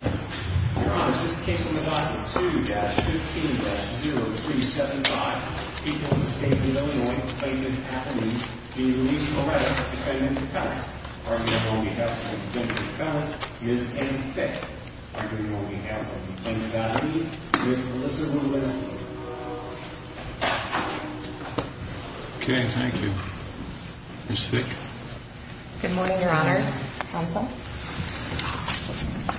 2-15-0375. People in the state of Illinois believe it's happening. Can you release Moreta, defendant of felonies? On behalf of the defendant of felonies, Ms. Amy Fick. On behalf of the defendant of felony, Ms. Alyssa Winslow. Okay, thank you. Ms. Fick. Good morning, your honors. Counsel.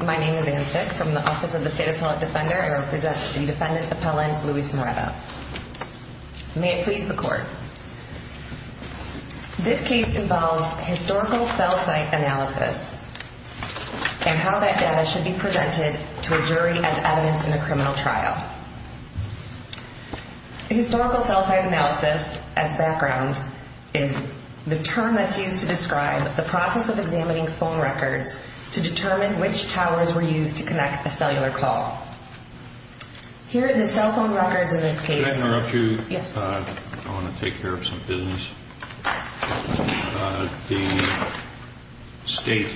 My name is Amy Fick from the Office of the State Appellate Defender. I represent the defendant of felonies, Luis Moreta. May it please the court. This case involves historical cell site analysis and how that data should be presented to a jury as evidence in a criminal trial. Historical cell site analysis as background is the term that's used to describe the process of examining phone records to determine which towers were used to connect a cellular call. Here are the cell phone records of this case. Could I interrupt you? Yes. I want to take care of some business. The state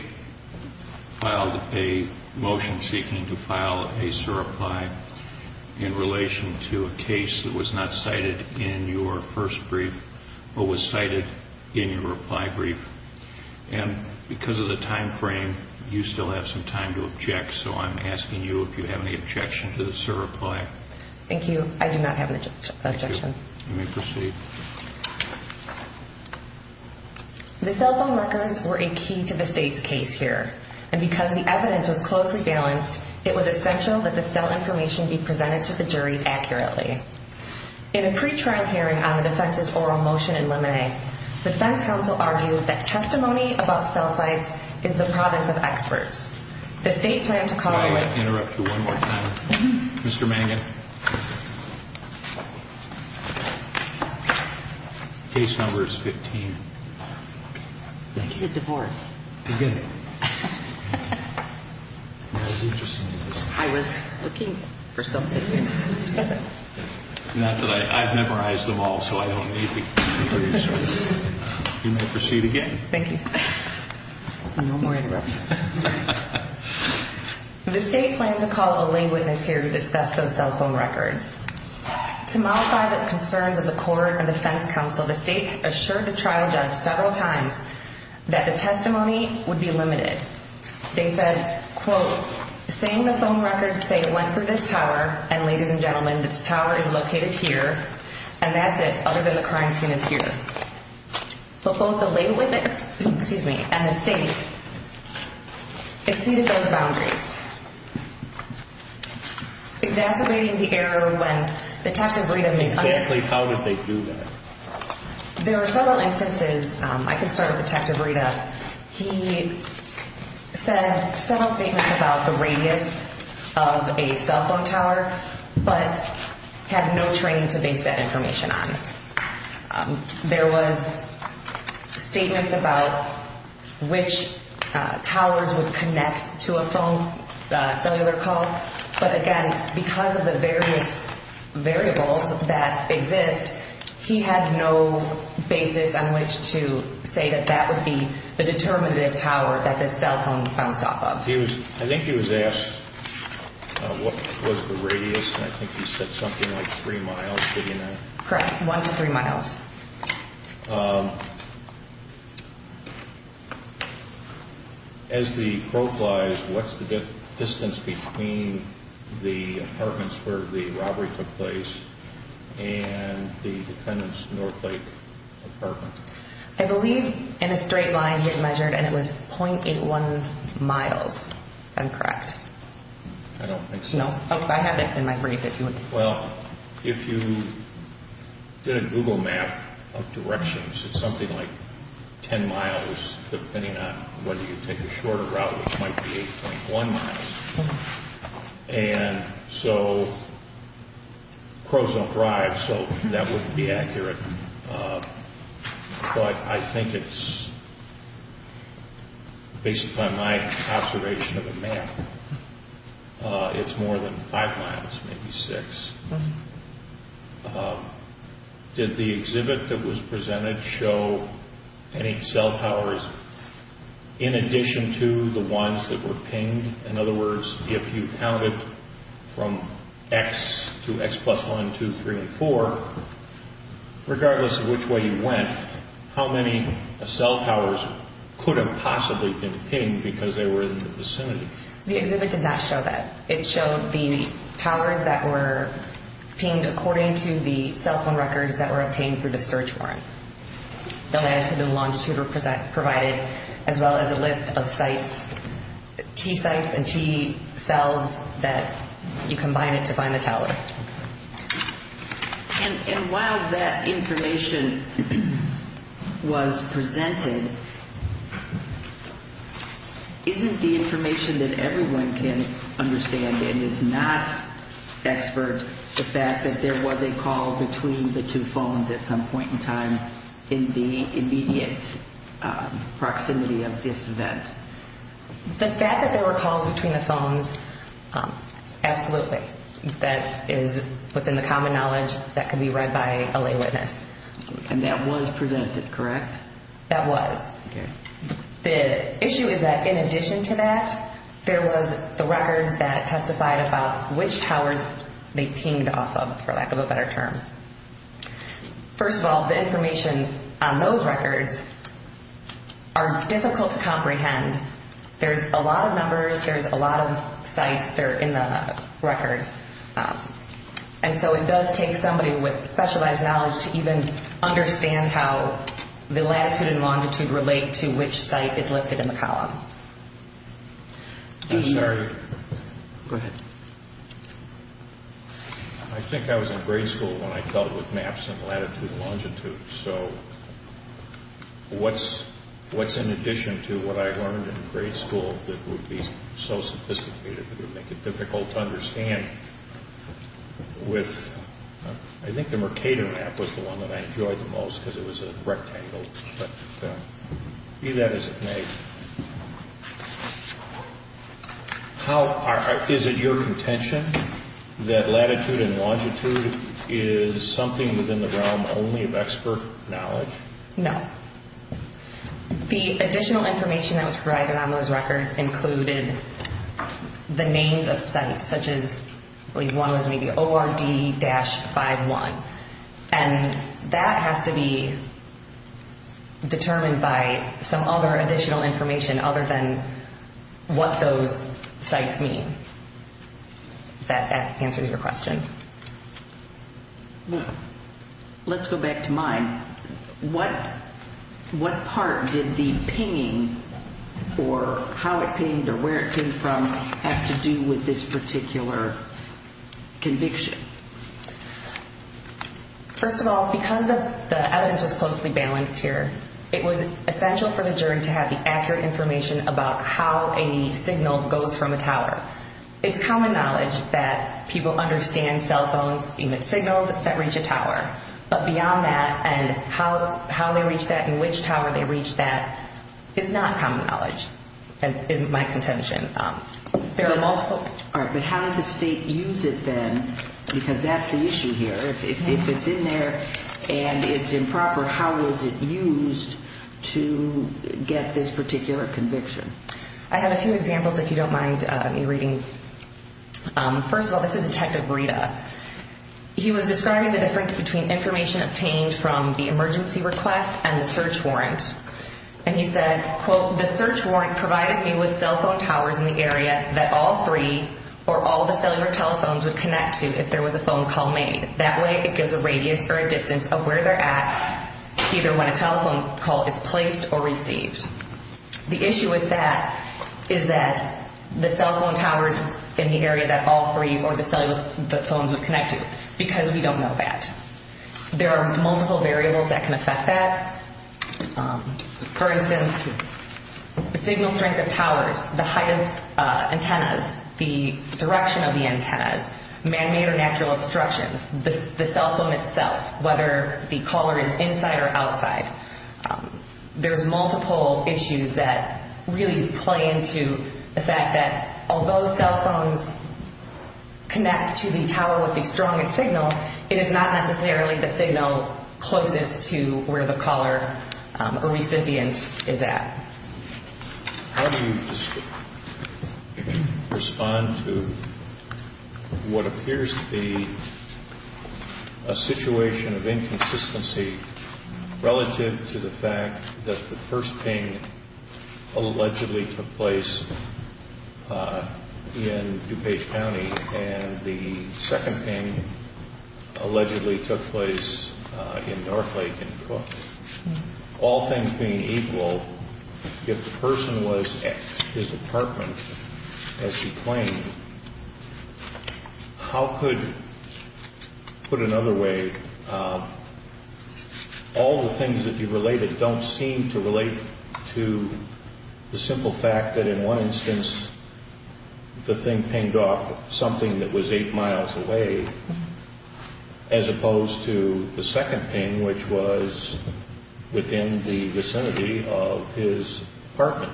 filed a motion seeking to file a surreply in relation to a case that was not cited in your first brief but was cited in your reply brief. And because of the time frame, you still have some time to object, so I'm asking you if you have any objection to the surreply. Thank you. I do not have an objection. Thank you. You may proceed. The cell phone records were a key to the state's case here. And because the evidence was closely balanced, it was essential that the cell information be presented to the jury accurately. In a pre-trial hearing on the defense's oral motion in limine, the defense counsel argued that testimony about cell sites is the province of experts. The state planned to call on... Could I interrupt you one more time? Mr. Mangan? Case number is 15. This is a divorce. Good. That was interesting. I was looking for something. Not that I... I've memorized them all, so I don't need the... You may proceed again. Thank you. No more interruptions. The state planned to call a lay witness here to discuss those cell phone records. To mollify the concerns of the court and the defense counsel, the state assured the trial judge several times that the testimony would be limited. They said, quote, saying the phone records say it went through this tower, and ladies and gentlemen, this tower is located here, and that's it, other than the crime scene is here. But both the lay witness, excuse me, and the state exceeded those boundaries. Exacerbating the error when Detective Rita... Exactly how did they do that? There are several instances. I can start with Detective Rita. He said several statements about the radius of a cell phone tower, but had no training to base that information on. There was statements about which towers would connect to a phone, cellular call, but again, because of the various variables that exist, he had no basis on which to say that that would be the determinative tower that the cell phone bounced off of. I think he was asked what was the radius, and I think he said something like three miles, did he not? Correct, one to three miles. As the quote lies, what's the distance between the apartments where the robbery took place and the defendant's Northlake apartment? I believe in a straight line he had measured, and it was .81 miles, if I'm correct. I don't think so. No, I have it in my brief, if you would... Well, if you did a Google map of directions, it's something like 10 miles, depending on whether you take the shorter route, which might be 8.1 miles. And so, crows don't drive, so that wouldn't be accurate. But I think it's, based on my observation of the map, it's more than 5 miles, maybe 6. Did the exhibit that was presented show any cell towers in addition to the ones that were pinged? In other words, if you counted from X to X plus 1, 2, 3, and 4, regardless of which way you went, how many cell towers could have possibly been pinged because they were in the vicinity? The exhibit did not show that. It showed the towers that were pinged according to the cell phone records that were obtained through the search warrant. The latitude and longitude were provided, as well as a list of sites, T sites and T cells that you combined to find the tower. And while that information was presented, isn't the information that everyone can understand and is not expert the fact that there was a call between the two phones at some point in time in the immediate proximity of this event? The fact that there were calls between the phones, absolutely. That is within the common knowledge that can be read by a lay witness. And that was presented, correct? That was. The issue is that in addition to that, there was the records that testified about which towers they pinged off of, for lack of a better term. First of all, the information on those records are difficult to comprehend. There's a lot of numbers. There's a lot of sites that are in the record. And so it does take somebody with specialized knowledge to even understand how the latitude and longitude relate to which site is listed in the columns. I'm sorry. Go ahead. I think I was in grade school when I dealt with maps and latitude and longitude. So what's in addition to what I learned in grade school that would be so sophisticated that it would make it difficult to understand? I think the Mercator map was the one that I enjoyed the most because it was a rectangle. But be that as it may. Is it your contention that latitude and longitude is something within the realm only of expert knowledge? No. The additional information that was provided on those records included the names of sites, such as ORD-51. And that has to be determined by some other additional information other than what those sites mean. If that answers your question. Let's go back to mine. What part did the pinging or how it pinged or where it came from have to do with this particular conviction? First of all, because the evidence was closely balanced here, it was essential for the jury to have the accurate information about how a signal goes from a tower. It's common knowledge that people understand cell phones emit signals that reach a tower. But beyond that and how they reach that and which tower they reach that is not common knowledge, is my contention. But how did the state use it then? Because that's the issue here. If it's in there and it's improper, how was it used to get this particular conviction? I have a few examples, if you don't mind me reading. First of all, this is Detective Rita. He was describing the difference between information obtained from the emergency request and the search warrant. And he said, quote, the search warrant provided me with cell phone towers in the area that all three or all the cellular telephones would connect to if there was a phone call made. That way it gives a radius or a distance of where they're at either when a telephone call is placed or received. The issue with that is that the cell phone towers in the area that all three or the phones would connect to because we don't know that. There are multiple variables that can affect that. For instance, the signal strength of towers, the height of antennas, the direction of the antennas, man-made or natural obstructions, the cell phone itself, whether the caller is inside or outside. There's multiple issues that really play into the fact that although cell phones connect to the tower with the strongest signal, it is not necessarily the signal closest to where the caller or recipient is at. How do you respond to what appears to be a situation of inconsistency relative to the fact that the first ping allegedly took place in DuPage County and the second ping allegedly took place in Northlake in Cook? All things being equal, if the person was at his apartment as he claimed, how could, put another way, all the things that you related don't seem to relate to the simple fact that in one instance the thing pinged off something that was eight miles away as opposed to the second ping, which was within the vicinity of his apartment.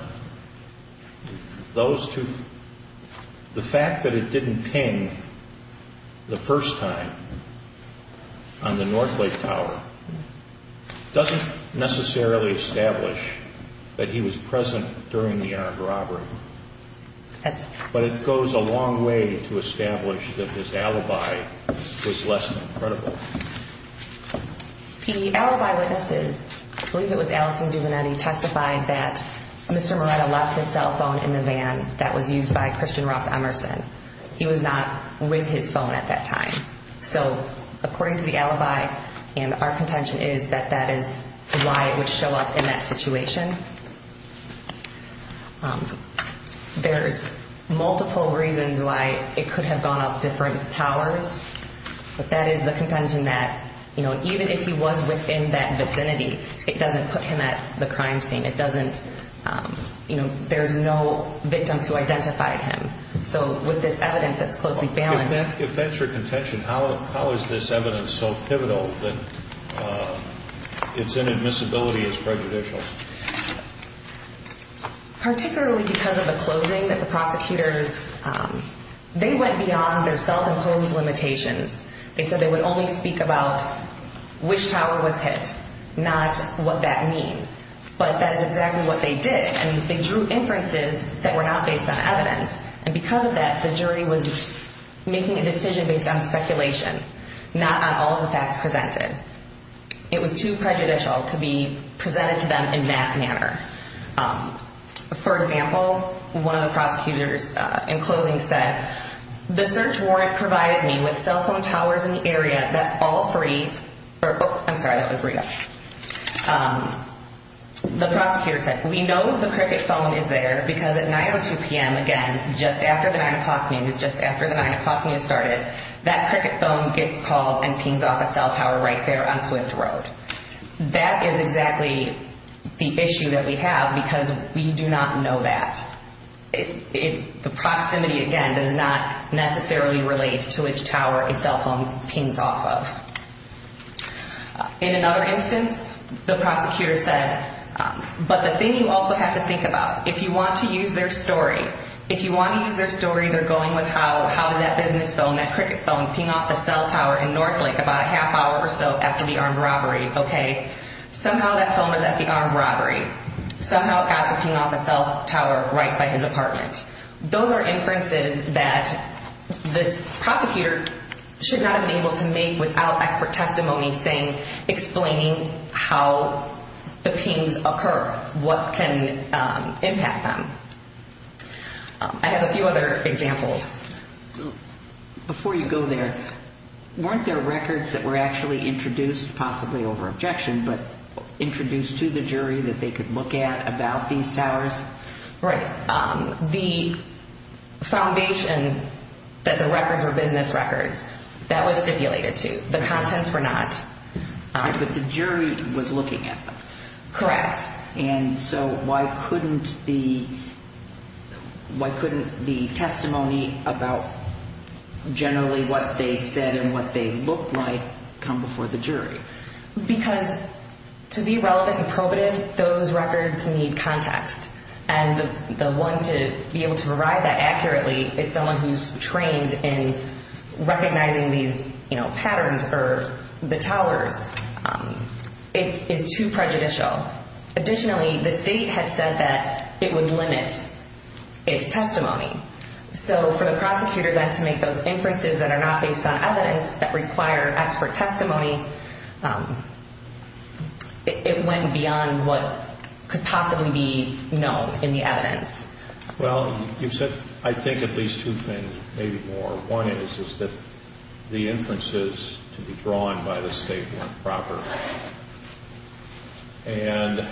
The fact that it didn't ping the first time on the Northlake tower doesn't necessarily establish that he was present during the armed robbery. But it goes a long way to establish that this alibi was less than credible. The alibi witnesses, I believe it was Allison DuVernetti, testified that Mr. Moretta left his cell phone in the van that was used by Christian Ross Emerson. He was not with his phone at that time. So according to the alibi and our contention is that that is why it would show up in that situation. There's multiple reasons why it could have gone up different towers. But that is the contention that, you know, even if he was within that vicinity, it doesn't put him at the crime scene. It doesn't, you know, there's no victims who identified him. So with this evidence that's closely balanced. If that's your contention, how is this evidence so pivotal that its inadmissibility is prejudicial? Particularly because of the closing that the prosecutors, they went beyond their self-imposed limitations. They said they would only speak about which tower was hit, not what that means. But that is exactly what they did. And they drew inferences that were not based on evidence. And because of that, the jury was making a decision based on speculation, not on all the facts presented. It was too prejudicial to be presented to them in that manner. For example, one of the prosecutors in closing said, the search warrant provided me with cell phone towers in the area that fall free. I'm sorry, that was weird. The prosecutor said, we know the cricket phone is there because at 9 or 2 p.m. again, just after the 9 o'clock news, just after the 9 o'clock news started, that cricket phone gets called and pings off a cell tower right there on Swift Road. That is exactly the issue that we have because we do not know that. The proximity, again, does not necessarily relate to which tower a cell phone pings off of. In another instance, the prosecutor said, but the thing you also have to think about, if you want to use their story, if you want to use their story, they're going with how did that business phone, that cricket phone, ping off a cell tower in Northlake about a half hour or so after the armed robbery. Okay, somehow that phone was at the armed robbery. Somehow it got to ping off a cell tower right by his apartment. Those are inferences that this prosecutor should not have been able to make without expert testimony saying, explaining how the pings occur, what can impact them. I have a few other examples. Before you go there, weren't there records that were actually introduced, possibly over objection, but introduced to the jury that they could look at about these towers? Right. The foundation that the records were business records, that was stipulated too. The contents were not. But the jury was looking at them. Correct. And so why couldn't the testimony about generally what they said and what they looked like come before the jury? Because to be relevant and probative, those records need context. And the one to be able to provide that accurately is someone who's trained in recognizing these patterns or the towers. It is too prejudicial. Additionally, the state had said that it would limit its testimony. So for the prosecutor then to make those inferences that are not based on evidence, that require expert testimony, it went beyond what could possibly be known in the evidence. Well, you've said, I think, at least two things, maybe more. One is that the inferences to be drawn by the state weren't proper. And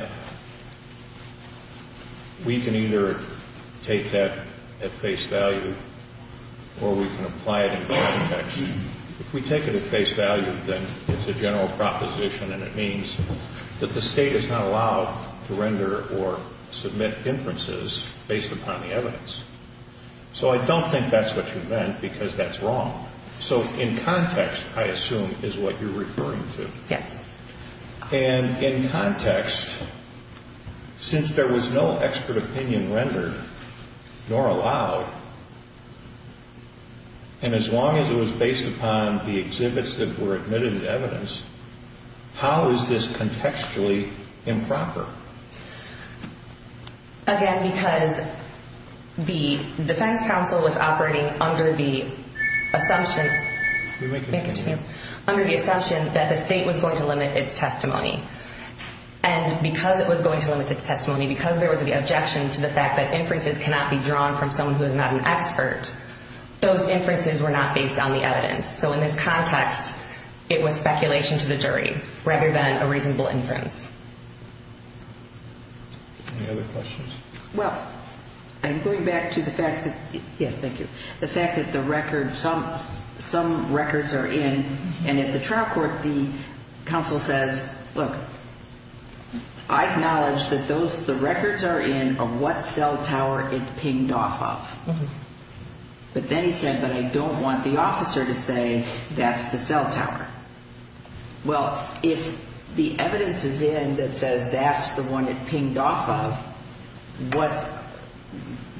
we can either take that at face value or we can apply it in context. If we take it at face value, then it's a general proposition, and it means that the state is not allowed to render or submit inferences based upon the evidence. So I don't think that's what you meant, because that's wrong. So in context, I assume, is what you're referring to. Yes. And in context, since there was no expert opinion rendered nor allowed, and as long as it was based upon the exhibits that were admitted as evidence, how is this contextually improper? Again, because the defense counsel was operating under the assumption... You may continue. Under the assumption that the state was going to limit its testimony. And because it was going to limit its testimony, because there was the objection to the fact that inferences cannot be drawn from someone who is not an expert, those inferences were not based on the evidence. So in this context, it was speculation to the jury rather than a reasonable inference. Any other questions? Well, I'm going back to the fact that... Yes, thank you. The fact that the record... Some records are in, and at the trial court, the counsel says, look, I acknowledge that the records are in of what cell tower it pinged off of. But then he said, but I don't want the officer to say that's the cell tower. Well, if the evidence is in that says that's the one it pinged off of,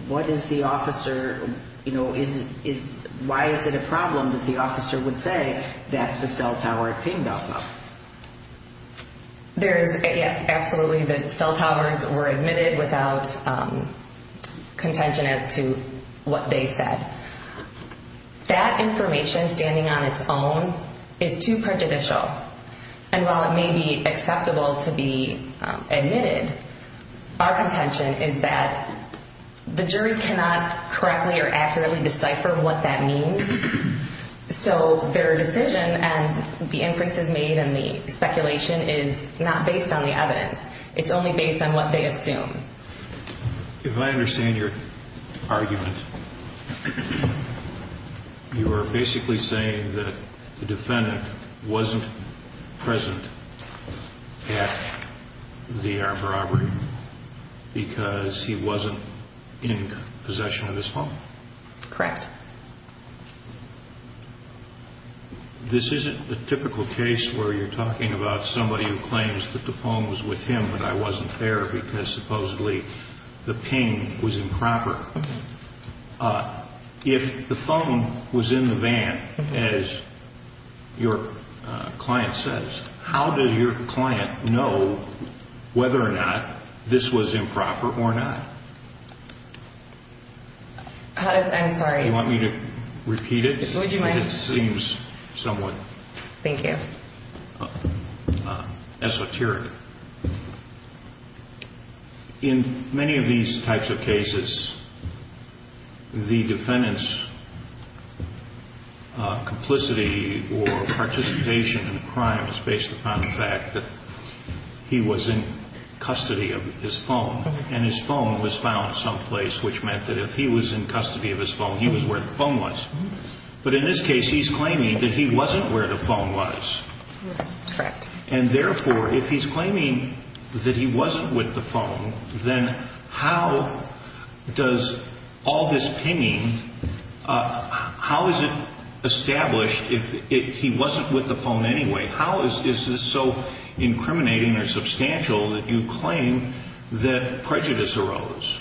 what is the officer... Why is it a problem that the officer would say that's the cell tower it pinged off of? There is absolutely that cell towers were admitted without contention as to what they said. That information standing on its own is too prejudicial. And while it may be acceptable to be admitted, our contention is that the jury cannot correctly or accurately decipher what that means. So their decision and the inferences made and the speculation is not based on the evidence. It's only based on what they assume. If I understand your argument, you are basically saying that the defendant wasn't present at the Arbor Arboretum because he wasn't in possession of his phone? Correct. This isn't the typical case where you're talking about somebody who claims that the phone was with him but I wasn't there because supposedly the ping was improper. If the phone was in the van, as your client says, how did your client know whether or not this was improper or not? I'm sorry? Do you want me to repeat it? Would you mind? It seems somewhat esoteric. In many of these types of cases, the defendant's complicity or participation in the crime is based upon the fact that he was in custody of his phone and his phone was found someplace, which meant that if he was in custody of his phone, he was where the phone was. But in this case, he's claiming that he wasn't where the phone was. Correct. And therefore, if he's claiming that he wasn't with the phone, then how does all this pinging, how is it established if he wasn't with the phone anyway? How is this so incriminating or substantial that you claim that prejudice arose?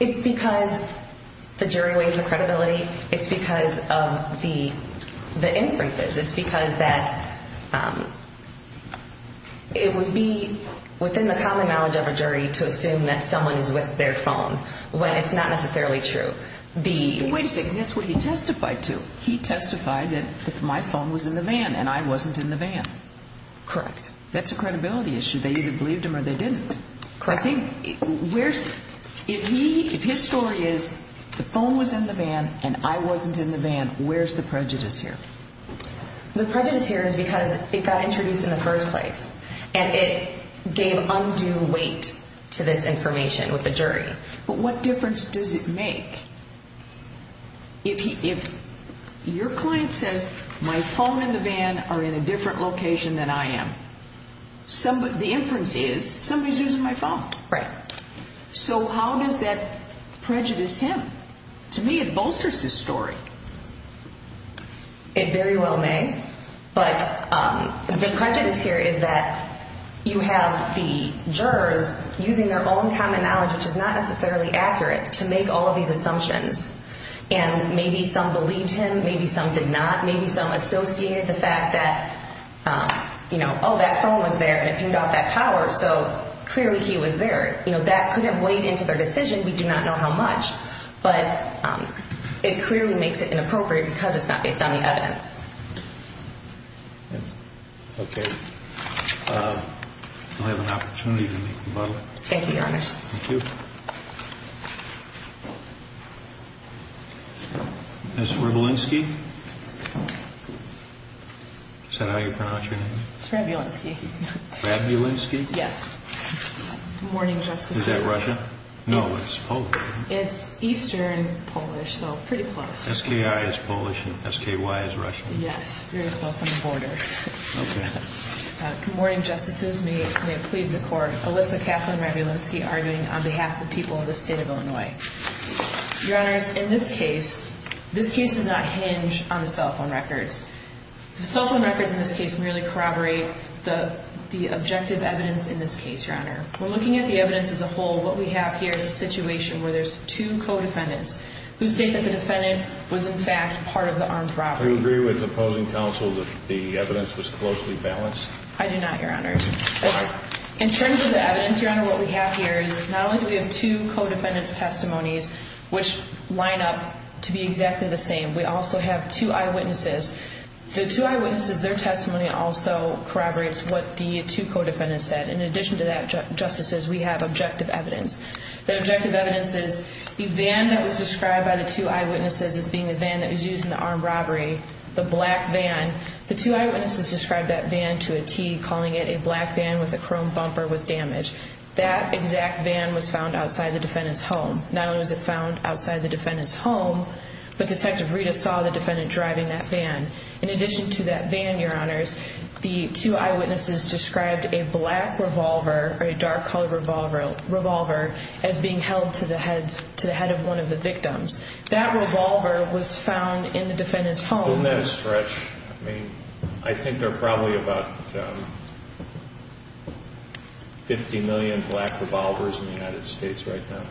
It's because the jury weighs the credibility. It's because of the inferences. It's because that it would be within the common knowledge of a jury to assume that someone is with their phone when it's not necessarily true. Wait a second. That's what he testified to. He testified that my phone was in the van and I wasn't in the van. Correct. That's a credibility issue. They either believed him or they didn't. Correct. If his story is the phone was in the van and I wasn't in the van, where's the prejudice here? The prejudice here is because it got introduced in the first place and it gave undue weight to this information with the jury. But what difference does it make? If your client says, my phone and the van are in a different location than I am, the inference is somebody's using my phone. Right. So how does that prejudice him? To me, it bolsters his story. It very well may. But the prejudice here is that you have the jurors using their own common knowledge, which is not necessarily accurate, to make all of these assumptions. And maybe some believed him, maybe some did not. Maybe some associated the fact that, you know, oh, that phone was there and it pinged off that tower, so clearly he was there. You know, that couldn't weigh into their decision. We do not know how much. But it clearly makes it inappropriate because it's not based on the evidence. Okay. You'll have an opportunity to meet the butler. Thank you, Your Honors. Thank you. Ms. Rebulinski? Is that how you pronounce your name? It's Rebulinski. Rebulinski? Yes. Good morning, Justice. Is that Russian? No, it's Polish. It's eastern Polish, so pretty close. SKI is Polish and SKY is Russian. Yes, very close on the border. Okay. Good morning, Justices. May it please the Court. Alyssa Kathleen Rebulinski arguing on behalf of the people of the state of Illinois. Your Honors, in this case, this case does not hinge on the cell phone records. The cell phone records in this case merely corroborate the objective evidence in this case, Your Honor. When looking at the evidence as a whole, what we have here is a situation where there's two co-defendants who state that the defendant was, in fact, part of the armed robbery. Do you agree with opposing counsel that the evidence was closely balanced? I do not, Your Honors. In terms of the evidence, Your Honor, what we have here is not only do we have two co-defendants' testimonies, which line up to be exactly the same, we also have two eyewitnesses. The two eyewitnesses, their testimony also corroborates what the two co-defendants said. In addition to that, Justices, we have objective evidence. The objective evidence is the van that was described by the two eyewitnesses as being the van that was used in the armed robbery, the black van. The two eyewitnesses described that van to a T, calling it a black van with a chrome bumper with damage. That exact van was found outside the defendant's home. Not only was it found outside the defendant's home, but Detective Rita saw the defendant driving that van. In addition to that van, Your Honors, the two eyewitnesses described a black revolver, or a dark-colored revolver, as being held to the head of one of the victims. That revolver was found in the defendant's home. Isn't that a stretch? I mean, I think there are probably about 50 million black revolvers in the United States right now.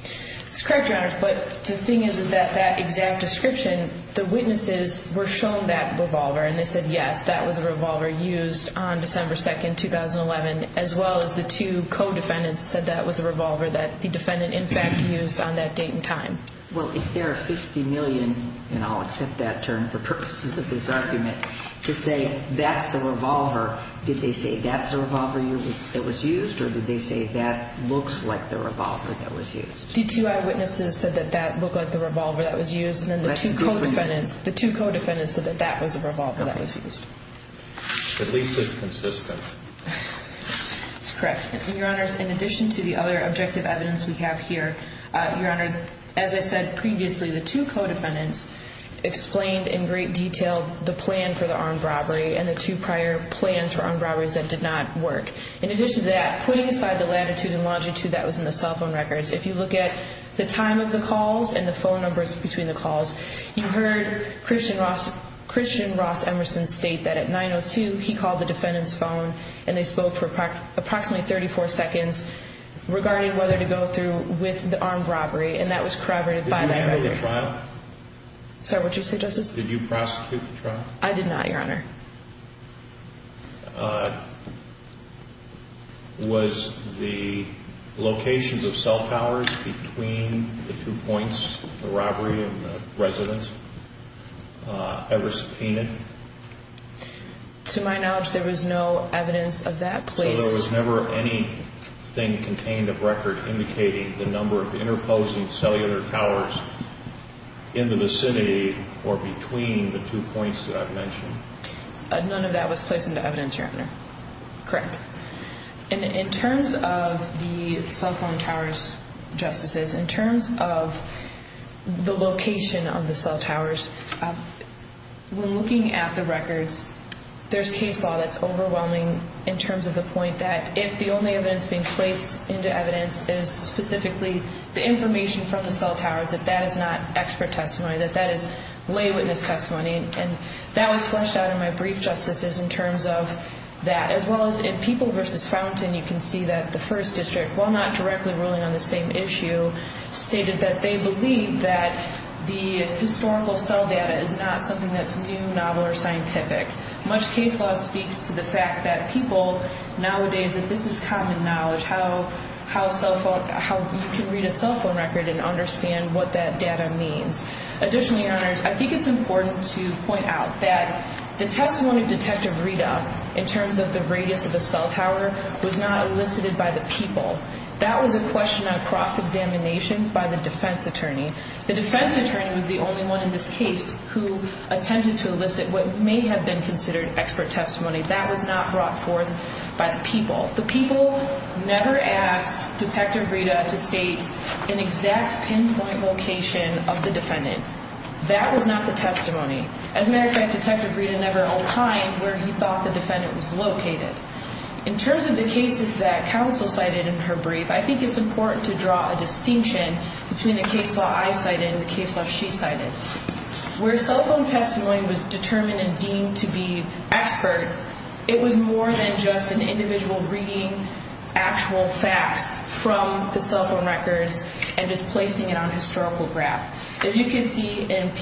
That's correct, Your Honors. But the thing is that that exact description, the witnesses were shown that revolver, and they said, yes, that was a revolver used on December 2, 2011, as well as the two co-defendants said that was a revolver that the defendant, in fact, used on that date and time. Well, if there are 50 million, and I'll accept that term for purposes of this argument, to say that's the revolver, did they say that's the revolver that was used, or did they say that looks like the revolver that was used? The two eyewitnesses said that that looked like the revolver that was used, and then the two co-defendants said that that was the revolver that was used. At least it's consistent. That's correct, Your Honors. In addition to the other objective evidence we have here, Your Honor, as I said previously, the two co-defendants explained in great detail the plan for the armed robbery and the two prior plans for armed robberies that did not work. In addition to that, putting aside the latitude and longitude that was in the cell phone records, if you look at the time of the calls and the phone numbers between the calls, you heard Christian Ross Emerson state that at 9.02 he called the defendant's phone and they spoke for approximately 34 seconds regarding whether to go through with the armed robbery, and that was corroborated by that record. Did you handle the trial? Sorry, what did you say, Justice? Did you prosecute the trial? I did not, Your Honor. Was the locations of cell towers between the two points, the robbery and the residence, ever subpoenaed? To my knowledge, there was no evidence of that. So there was never anything contained of record indicating the number of interposing cellular towers in the vicinity or between the two points that I've mentioned? None of that was placed into evidence, Your Honor. Correct. In terms of the cell phone towers, Justices, in terms of the location of the cell towers, when looking at the records, there's case law that's overwhelming in terms of the point that if the only evidence being placed into evidence is specifically the information from the cell towers, that that is not expert testimony, that that is lay witness testimony, and that was fleshed out in my brief, Justices, in terms of that. As well as in People v. Fountain, you can see that the First District, while not directly ruling on the same issue, stated that they believe that the historical cell data is not something that's new, novel, or scientific. Much case law speaks to the fact that people nowadays, that this is common knowledge, how you can read a cell phone record and understand what that data means. Additionally, Your Honors, I think it's important to point out that the testimony of Detective Rita in terms of the radius of the cell tower was not elicited by the people. That was a question on cross-examination by the defense attorney. The defense attorney was the only one in this case who attempted to elicit what may have been considered expert testimony. That was not brought forth by the people. The people never asked Detective Rita to state an exact pinpoint location of the defendant. That was not the testimony. As a matter of fact, Detective Rita never opined where he thought the defendant was located. In terms of the cases that counsel cited in her brief, I think it's important to draw a distinction between the case law I cited and the case law she cited. Where cell phone testimony was determined and deemed to be expert, it was more than just an individual reading actual facts from the cell phone records and just placing it on a historical graph. As you can see in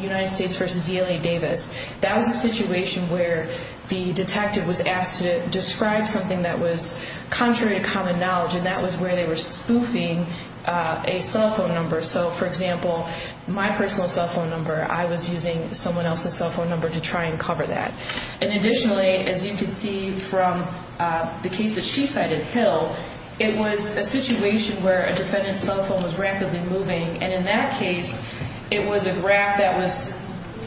United States v. ELA Davis, that was a situation where the detective was asked to describe something that was contrary to common knowledge, and that was where they were spoofing a cell phone number. So, for example, my personal cell phone number, I was using someone else's cell phone number to try and cover that. Additionally, as you can see from the case that she cited, Hill, it was a situation where a defendant's cell phone was rapidly moving, and in that case, it was a graph that was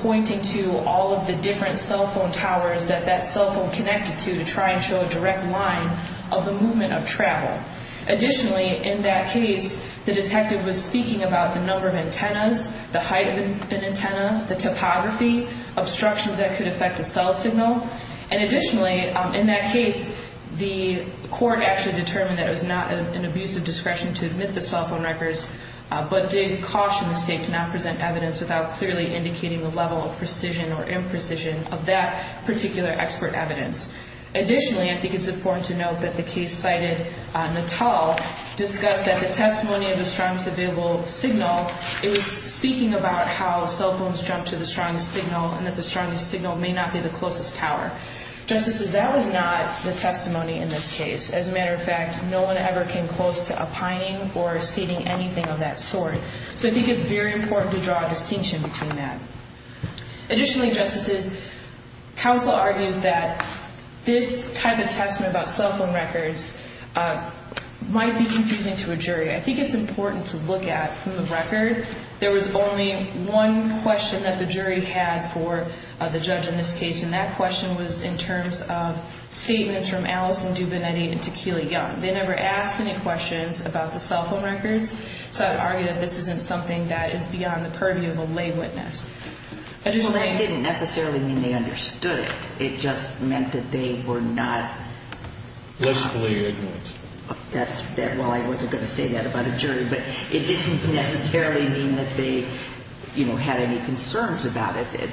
pointing to all of the different cell phone towers that that cell phone connected to to try and show a direct line of the movement of travel. Additionally, in that case, the detective was speaking about the number of antennas, the height of an antenna, the topography, obstructions that could affect a cell signal, and additionally, in that case, the court actually determined that it was not an abusive discretion to admit the cell phone records, but did caution the state to not present evidence without clearly indicating the level of precision or imprecision of that particular expert evidence. Additionally, I think it's important to note that the case cited Natal discussed that the testimony of the strongest available signal, it was speaking about how cell phones jump to the strongest signal and that the strongest signal may not be the closest tower. Justices, that was not the testimony in this case. As a matter of fact, no one ever came close to opining or stating anything of that sort. So I think it's very important to draw a distinction between that. Additionally, Justices, counsel argues that this type of testimony about cell phone records might be confusing to a jury. I think it's important to look at from the record. There was only one question that the jury had for the judge in this case, and that question was in terms of statements from Allison Dubonetti and Tequila Young. They never asked any questions about the cell phone records, so I'd argue that this isn't something that is beyond the purview of a lay witness. Well, that didn't necessarily mean they understood it. It just meant that they were not confident. Well, I wasn't going to say that about a jury, but it didn't necessarily mean that they had any concerns about it.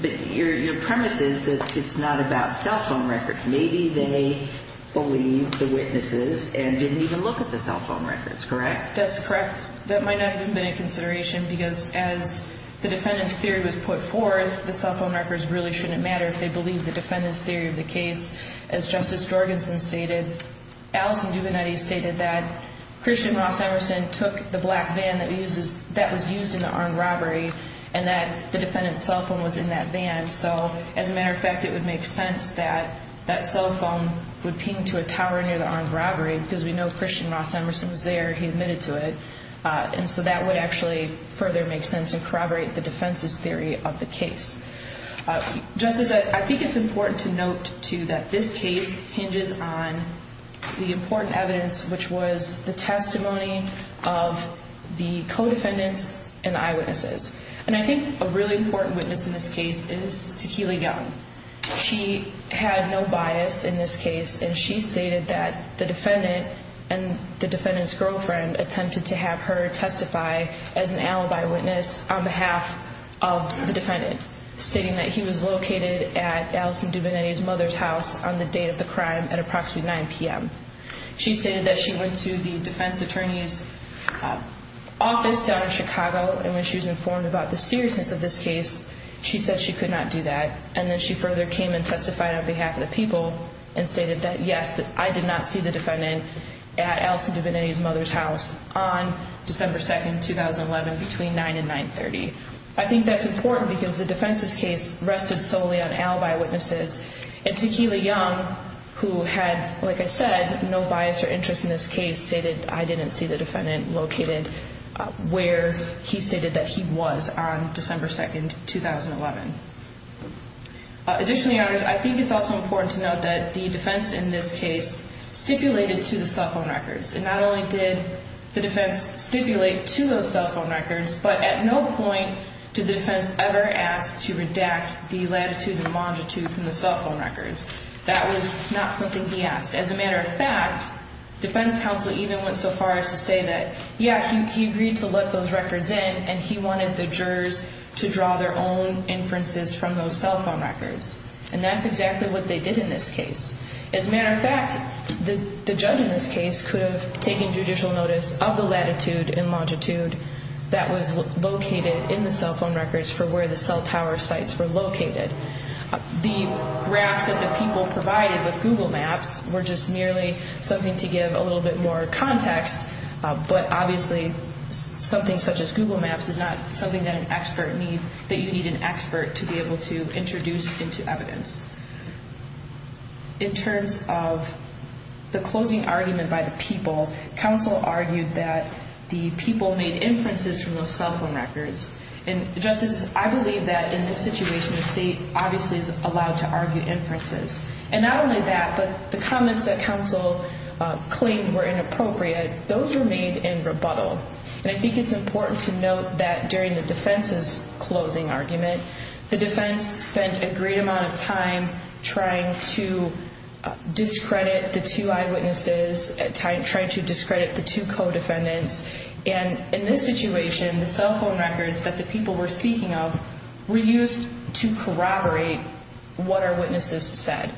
But your premise is that it's not about cell phone records. Maybe they believe the witnesses and didn't even look at the cell phone records, correct? That's correct. That might not have been a consideration because as the defendant's theory was put forth, the cell phone records really shouldn't matter if they believe the defendant's theory of the case. As Justice Jorgensen stated, Allison Dubonetti stated that Christian Ross Emerson took the black van that was used in the armed robbery and that the defendant's cell phone was in that van. So as a matter of fact, it would make sense that that cell phone would ping to a tower near the armed robbery because we know Christian Ross Emerson was there. He admitted to it. And so that would actually further make sense and corroborate the defense's theory of the case. Justice, I think it's important to note, too, that this case hinges on the important evidence, which was the testimony of the co-defendants and eyewitnesses. And I think a really important witness in this case is Tequila Young. She had no bias in this case, and she stated that the defendant and the defendant's girlfriend attempted to have her testify as an alibi witness on behalf of the defendant, stating that he was located at Allison Dubonetti's mother's house on the date of the crime at approximately 9 p.m. She stated that she went to the defense attorney's office down in Chicago, and when she was informed about the seriousness of this case, she said she could not do that. And then she further came and testified on behalf of the people and stated that, yes, I did not see the defendant at Allison Dubonetti's mother's house on December 2, 2011, between 9 and 9.30. I think that's important because the defense's case rested solely on alibi witnesses. And Tequila Young, who had, like I said, no bias or interest in this case, she stated, I didn't see the defendant located where he stated that he was on December 2, 2011. Additionally, Your Honors, I think it's also important to note that the defense in this case stipulated to the cell phone records. And not only did the defense stipulate to those cell phone records, but at no point did the defense ever ask to redact the latitude and longitude from the cell phone records. That was not something he asked. As a matter of fact, defense counsel even went so far as to say that, yeah, he agreed to let those records in, and he wanted the jurors to draw their own inferences from those cell phone records. And that's exactly what they did in this case. As a matter of fact, the judge in this case could have taken judicial notice of the latitude and longitude that was located in the cell phone records for where the cell tower sites were located. The graphs that the people provided with Google Maps were just merely something to give a little bit more context, but obviously something such as Google Maps is not something that an expert need, that you need an expert to be able to introduce into evidence. In terms of the closing argument by the people, counsel argued that the people made inferences from those cell phone records. And, Justice, I believe that in this situation the state obviously is allowed to argue inferences. And not only that, but the comments that counsel claimed were inappropriate, those were made in rebuttal. And I think it's important to note that during the defense's closing argument, the defense spent a great amount of time trying to discredit the two eyewitnesses, trying to discredit the two co-defendants. And in this situation, the cell phone records that the people were speaking of were used to corroborate what our witnesses said.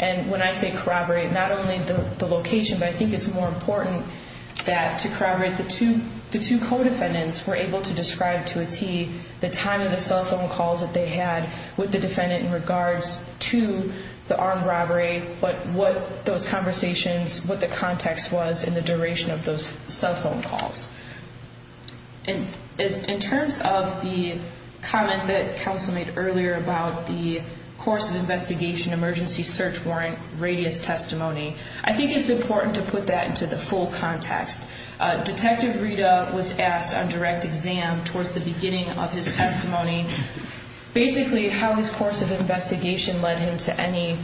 And when I say corroborate, not only the location, but I think it's more important that to corroborate the two co-defendants were able to describe to a tee the time of the cell phone calls that they had with the defendant in regards to the armed robbery, but what those conversations, what the context was in the duration of those cell phone calls. In terms of the comment that counsel made earlier about the course of investigation emergency search warrant radius testimony, I think it's important to put that into the full context. Detective Rita was asked on direct exam towards the beginning of his testimony basically how his course of investigation led him to any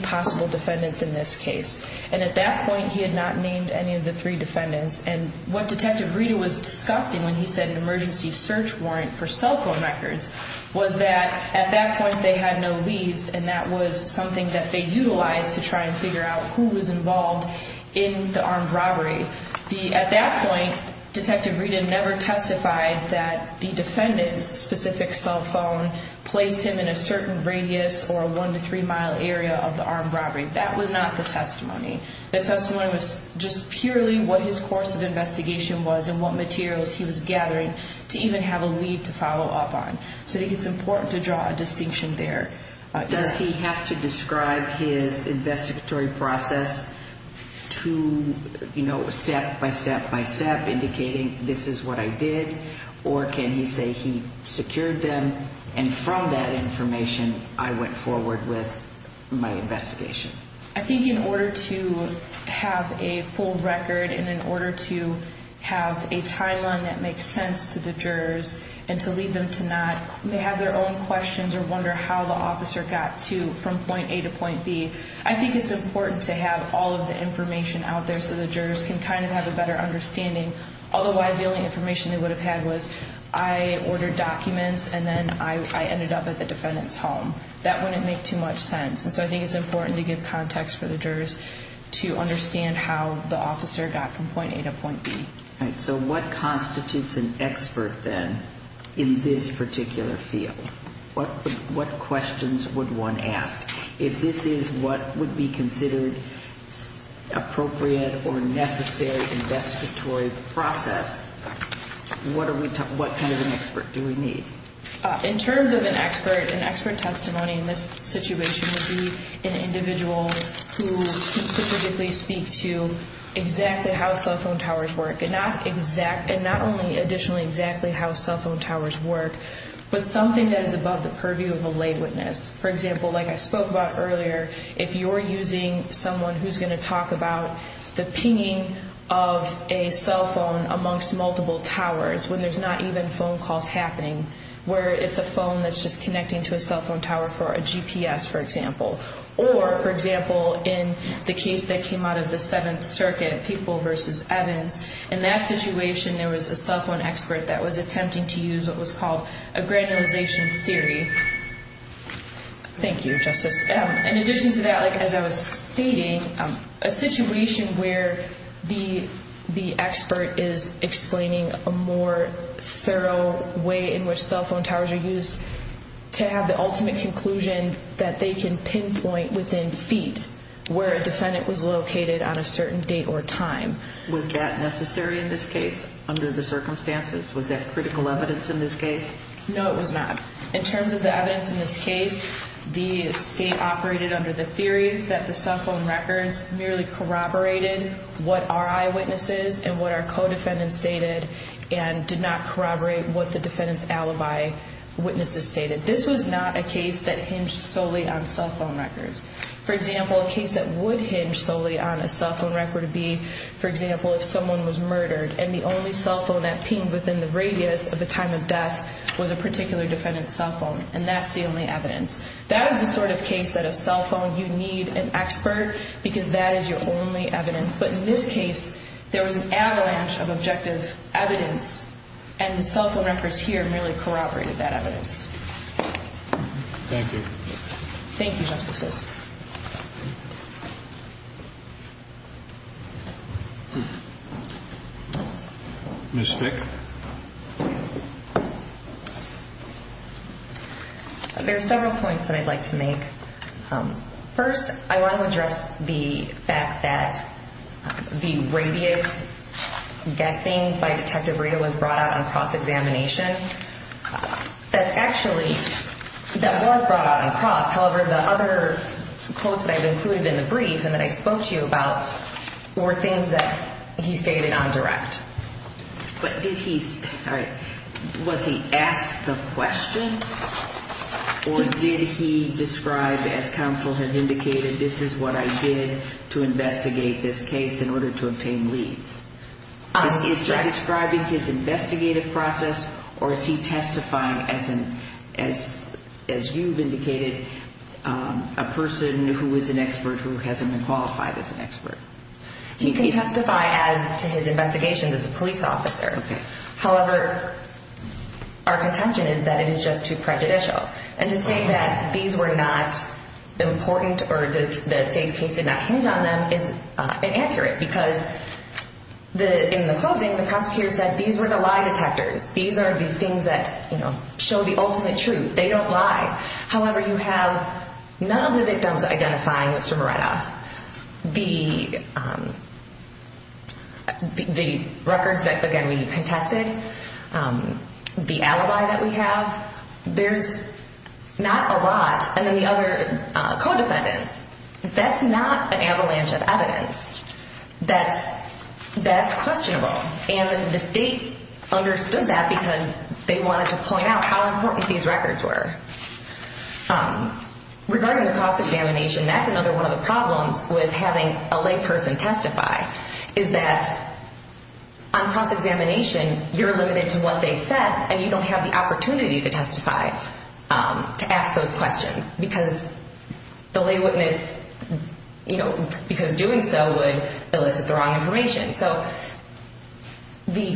possible defendants in this case. And at that point, he had not named any of the three defendants. And what Detective Rita was discussing when he said an emergency search warrant for cell phone records was that at that point they had no leads, and that was something that they utilized to try and figure out who was involved in the armed robbery. At that point, Detective Rita never testified that the defendant's specific cell phone placed him in a certain radius or a one to three mile area of the armed robbery. That was not the testimony. The testimony was just purely what his course of investigation was and what materials he was gathering to even have a lead to follow up on. So I think it's important to draw a distinction there. Does he have to describe his investigatory process to, you know, step by step by step indicating this is what I did? Or can he say he secured them and from that information I went forward with my investigation? I think in order to have a full record and in order to have a timeline that makes sense to the jurors and to lead them to not have their own questions or wonder how the officer got to from point A to point B, I think it's important to have all of the information out there so the jurors can kind of have a better understanding. Otherwise, the only information they would have had was I ordered documents and then I ended up at the defendant's home. That wouldn't make too much sense. And so I think it's important to give context for the jurors to understand how the officer got from point A to point B. All right. So what constitutes an expert then in this particular field? What questions would one ask? If this is what would be considered appropriate or necessary investigatory process, what kind of an expert do we need? In terms of an expert, an expert testimony in this situation would be an individual who can specifically speak to exactly how cell phone towers work, and not only additionally exactly how cell phone towers work, but something that is above the purview of a lay witness. For example, like I spoke about earlier, if you're using someone who's going to talk about the pinging of a cell phone amongst multiple towers when there's not even phone calls happening, where it's a phone that's just connecting to a cell phone tower for a GPS, for example. Or, for example, in the case that came out of the Seventh Circuit, People v. Evans, in that situation there was a cell phone expert that was attempting to use what was called a granulization theory. Thank you, Justice. In addition to that, as I was stating, a situation where the expert is explaining a more thorough way in which cell phone towers are used to have the ultimate conclusion that they can pinpoint within feet where a defendant was located on a certain date or time. Was that necessary in this case under the circumstances? Was that critical evidence in this case? No, it was not. In terms of the evidence in this case, the state operated under the theory that the cell phone records merely corroborated what our eyewitnesses and what our co-defendants stated and did not corroborate what the defendant's alibi witnesses stated. This was not a case that hinged solely on cell phone records. For example, a case that would hinge solely on a cell phone record would be, for example, if someone was murdered and the only cell phone that pinged within the radius of the time of death was a particular defendant's cell phone. And that's the only evidence. That is the sort of case that a cell phone, you need an expert because that is your only evidence. But in this case, there was an avalanche of objective evidence and the cell phone records here merely corroborated that evidence. Thank you. Thank you, Justices. Ms. Fick? There are several points that I'd like to make. First, I want to address the fact that the radius guessing by Detective Rita was brought out on cross-examination. That's actually, that was brought out on cross. However, the other quotes that I've included in the brief and that I spoke to you about were things that he stated on direct. But did he, all right, was he asked the question or did he describe, as counsel has indicated, this is what I did to investigate this case in order to obtain leads? Is he describing his investigative process or is he testifying as an, as you've indicated, a person who is an expert who hasn't been qualified as an expert? He can testify as to his investigations as a police officer. However, our contention is that it is just too prejudicial. And to say that these were not important or that the state's case did not hinge on them is inaccurate because in the closing, the prosecutor said these were the lie detectors. These are the things that show the ultimate truth. They don't lie. However, you have none of the victims identifying Mr. Moretta. The records that, again, we contested, the alibi that we have, there's not a lot. And then the other co-defendants, that's not an avalanche of evidence. That's questionable. And the state understood that because they wanted to point out how important these records were. Regarding the cross-examination, that's another one of the problems with having a lay person testify, is that on cross-examination, you're limited to what they said and you don't have the opportunity to testify to ask those questions because the lay witness, you know, because doing so would elicit the wrong information. So the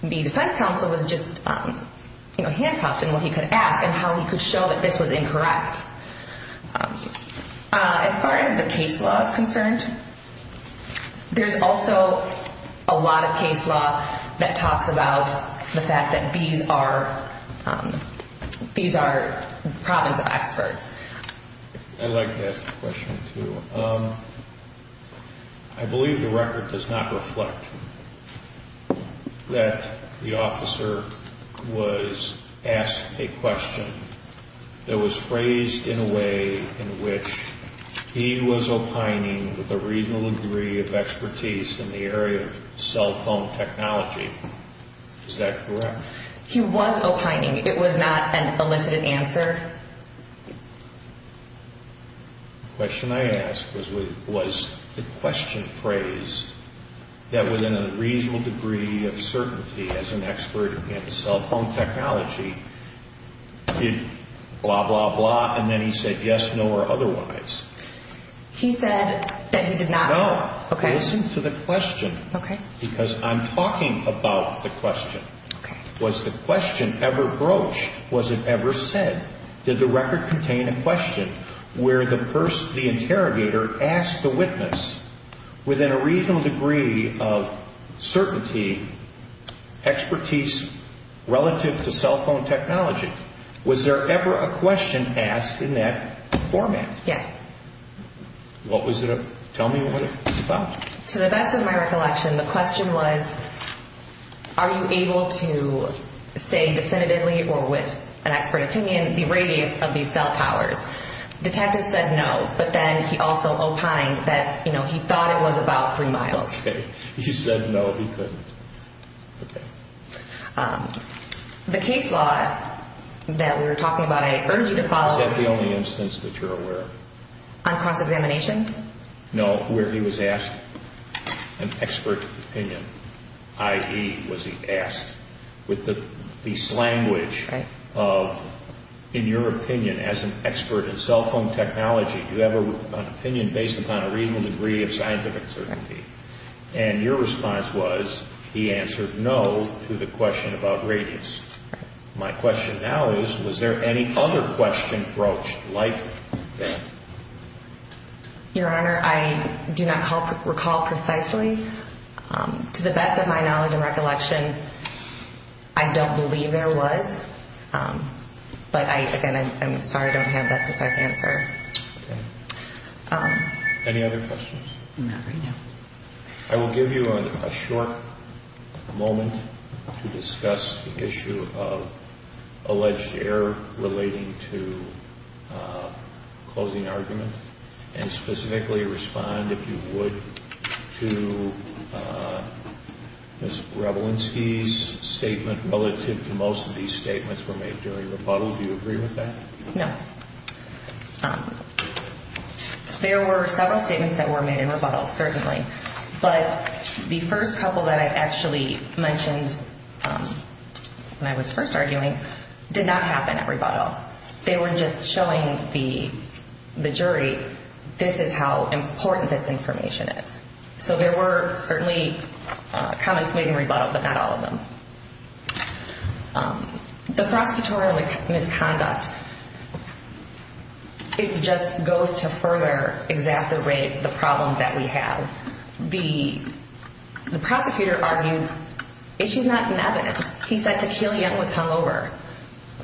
defense counsel was just handcuffed in what he could ask and how he could show that this was incorrect. As far as the case law is concerned, there's also a lot of case law that talks about the fact that these are province of experts. I'd like to ask a question, too. I believe the record does not reflect that the officer was asked a question that was phrased in a way in which he was opining with a reasonable degree of expertise in the area of cell phone technology. Is that correct? He was opining. It was not an elicited answer. The question I asked was, was the question phrased that within a reasonable degree of certainty as an expert in cell phone technology, blah, blah, blah, and then he said yes, no, or otherwise. He said that he did not. No. Okay. Listen to the question. Okay. Because I'm talking about the question. Okay. Was the question ever broached? Was it ever said? Did the record contain a question where the interrogator asked the witness within a reasonable degree of certainty expertise relative to cell phone technology? Was there ever a question asked in that format? Yes. What was it? Tell me what it was about. To the best of my recollection, the question was, are you able to say definitively or with an expert opinion the radius of these cell towers? The detective said no, but then he also opined that he thought it was about three miles. He said no, he couldn't. Okay. The case law that we were talking about, I urge you to follow. Is that the only instance that you're aware of? On cross-examination? No, where he was asked an expert opinion, i.e., was he asked. With the slanguage of, in your opinion, as an expert in cell phone technology, do you have an opinion based upon a reasonable degree of scientific certainty? And your response was, he answered no to the question about radius. My question now is, was there any other question broached like that? Your Honor, I do not recall precisely. To the best of my knowledge and recollection, I don't believe there was. But, again, I'm sorry I don't have that precise answer. Okay. Any other questions? Not right now. I will give you a short moment to discuss the issue of alleged error relating to closing argument and specifically respond, if you would, to Ms. Grebelinsky's statement relative to most of these statements were made during rebuttal. Do you agree with that? No. There were several statements that were made in rebuttal, certainly. But the first couple that I actually mentioned when I was first arguing did not happen at rebuttal. They were just showing the jury, this is how important this information is. So there were certainly comments made in rebuttal, but not all of them. The prosecutorial misconduct, it just goes to further exacerbate the problems that we have. The prosecutor argued issues not in evidence. He said Tekillion was hungover.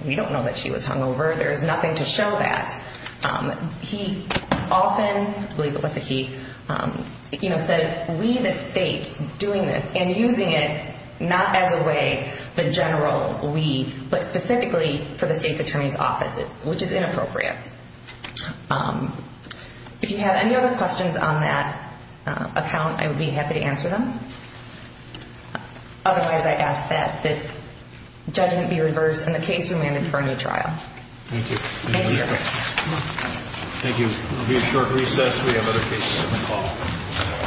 We don't know that she was hungover. There is nothing to show that. He often said, we the state doing this and using it not as a way, the general we, but specifically for the state's attorney's office, which is inappropriate. If you have any other questions on that account, I would be happy to answer them. Otherwise, I ask that this judgment be reversed and the case remanded for a new trial. Thank you. Thank you. Thank you. It will be a short recess. We have other cases on the call.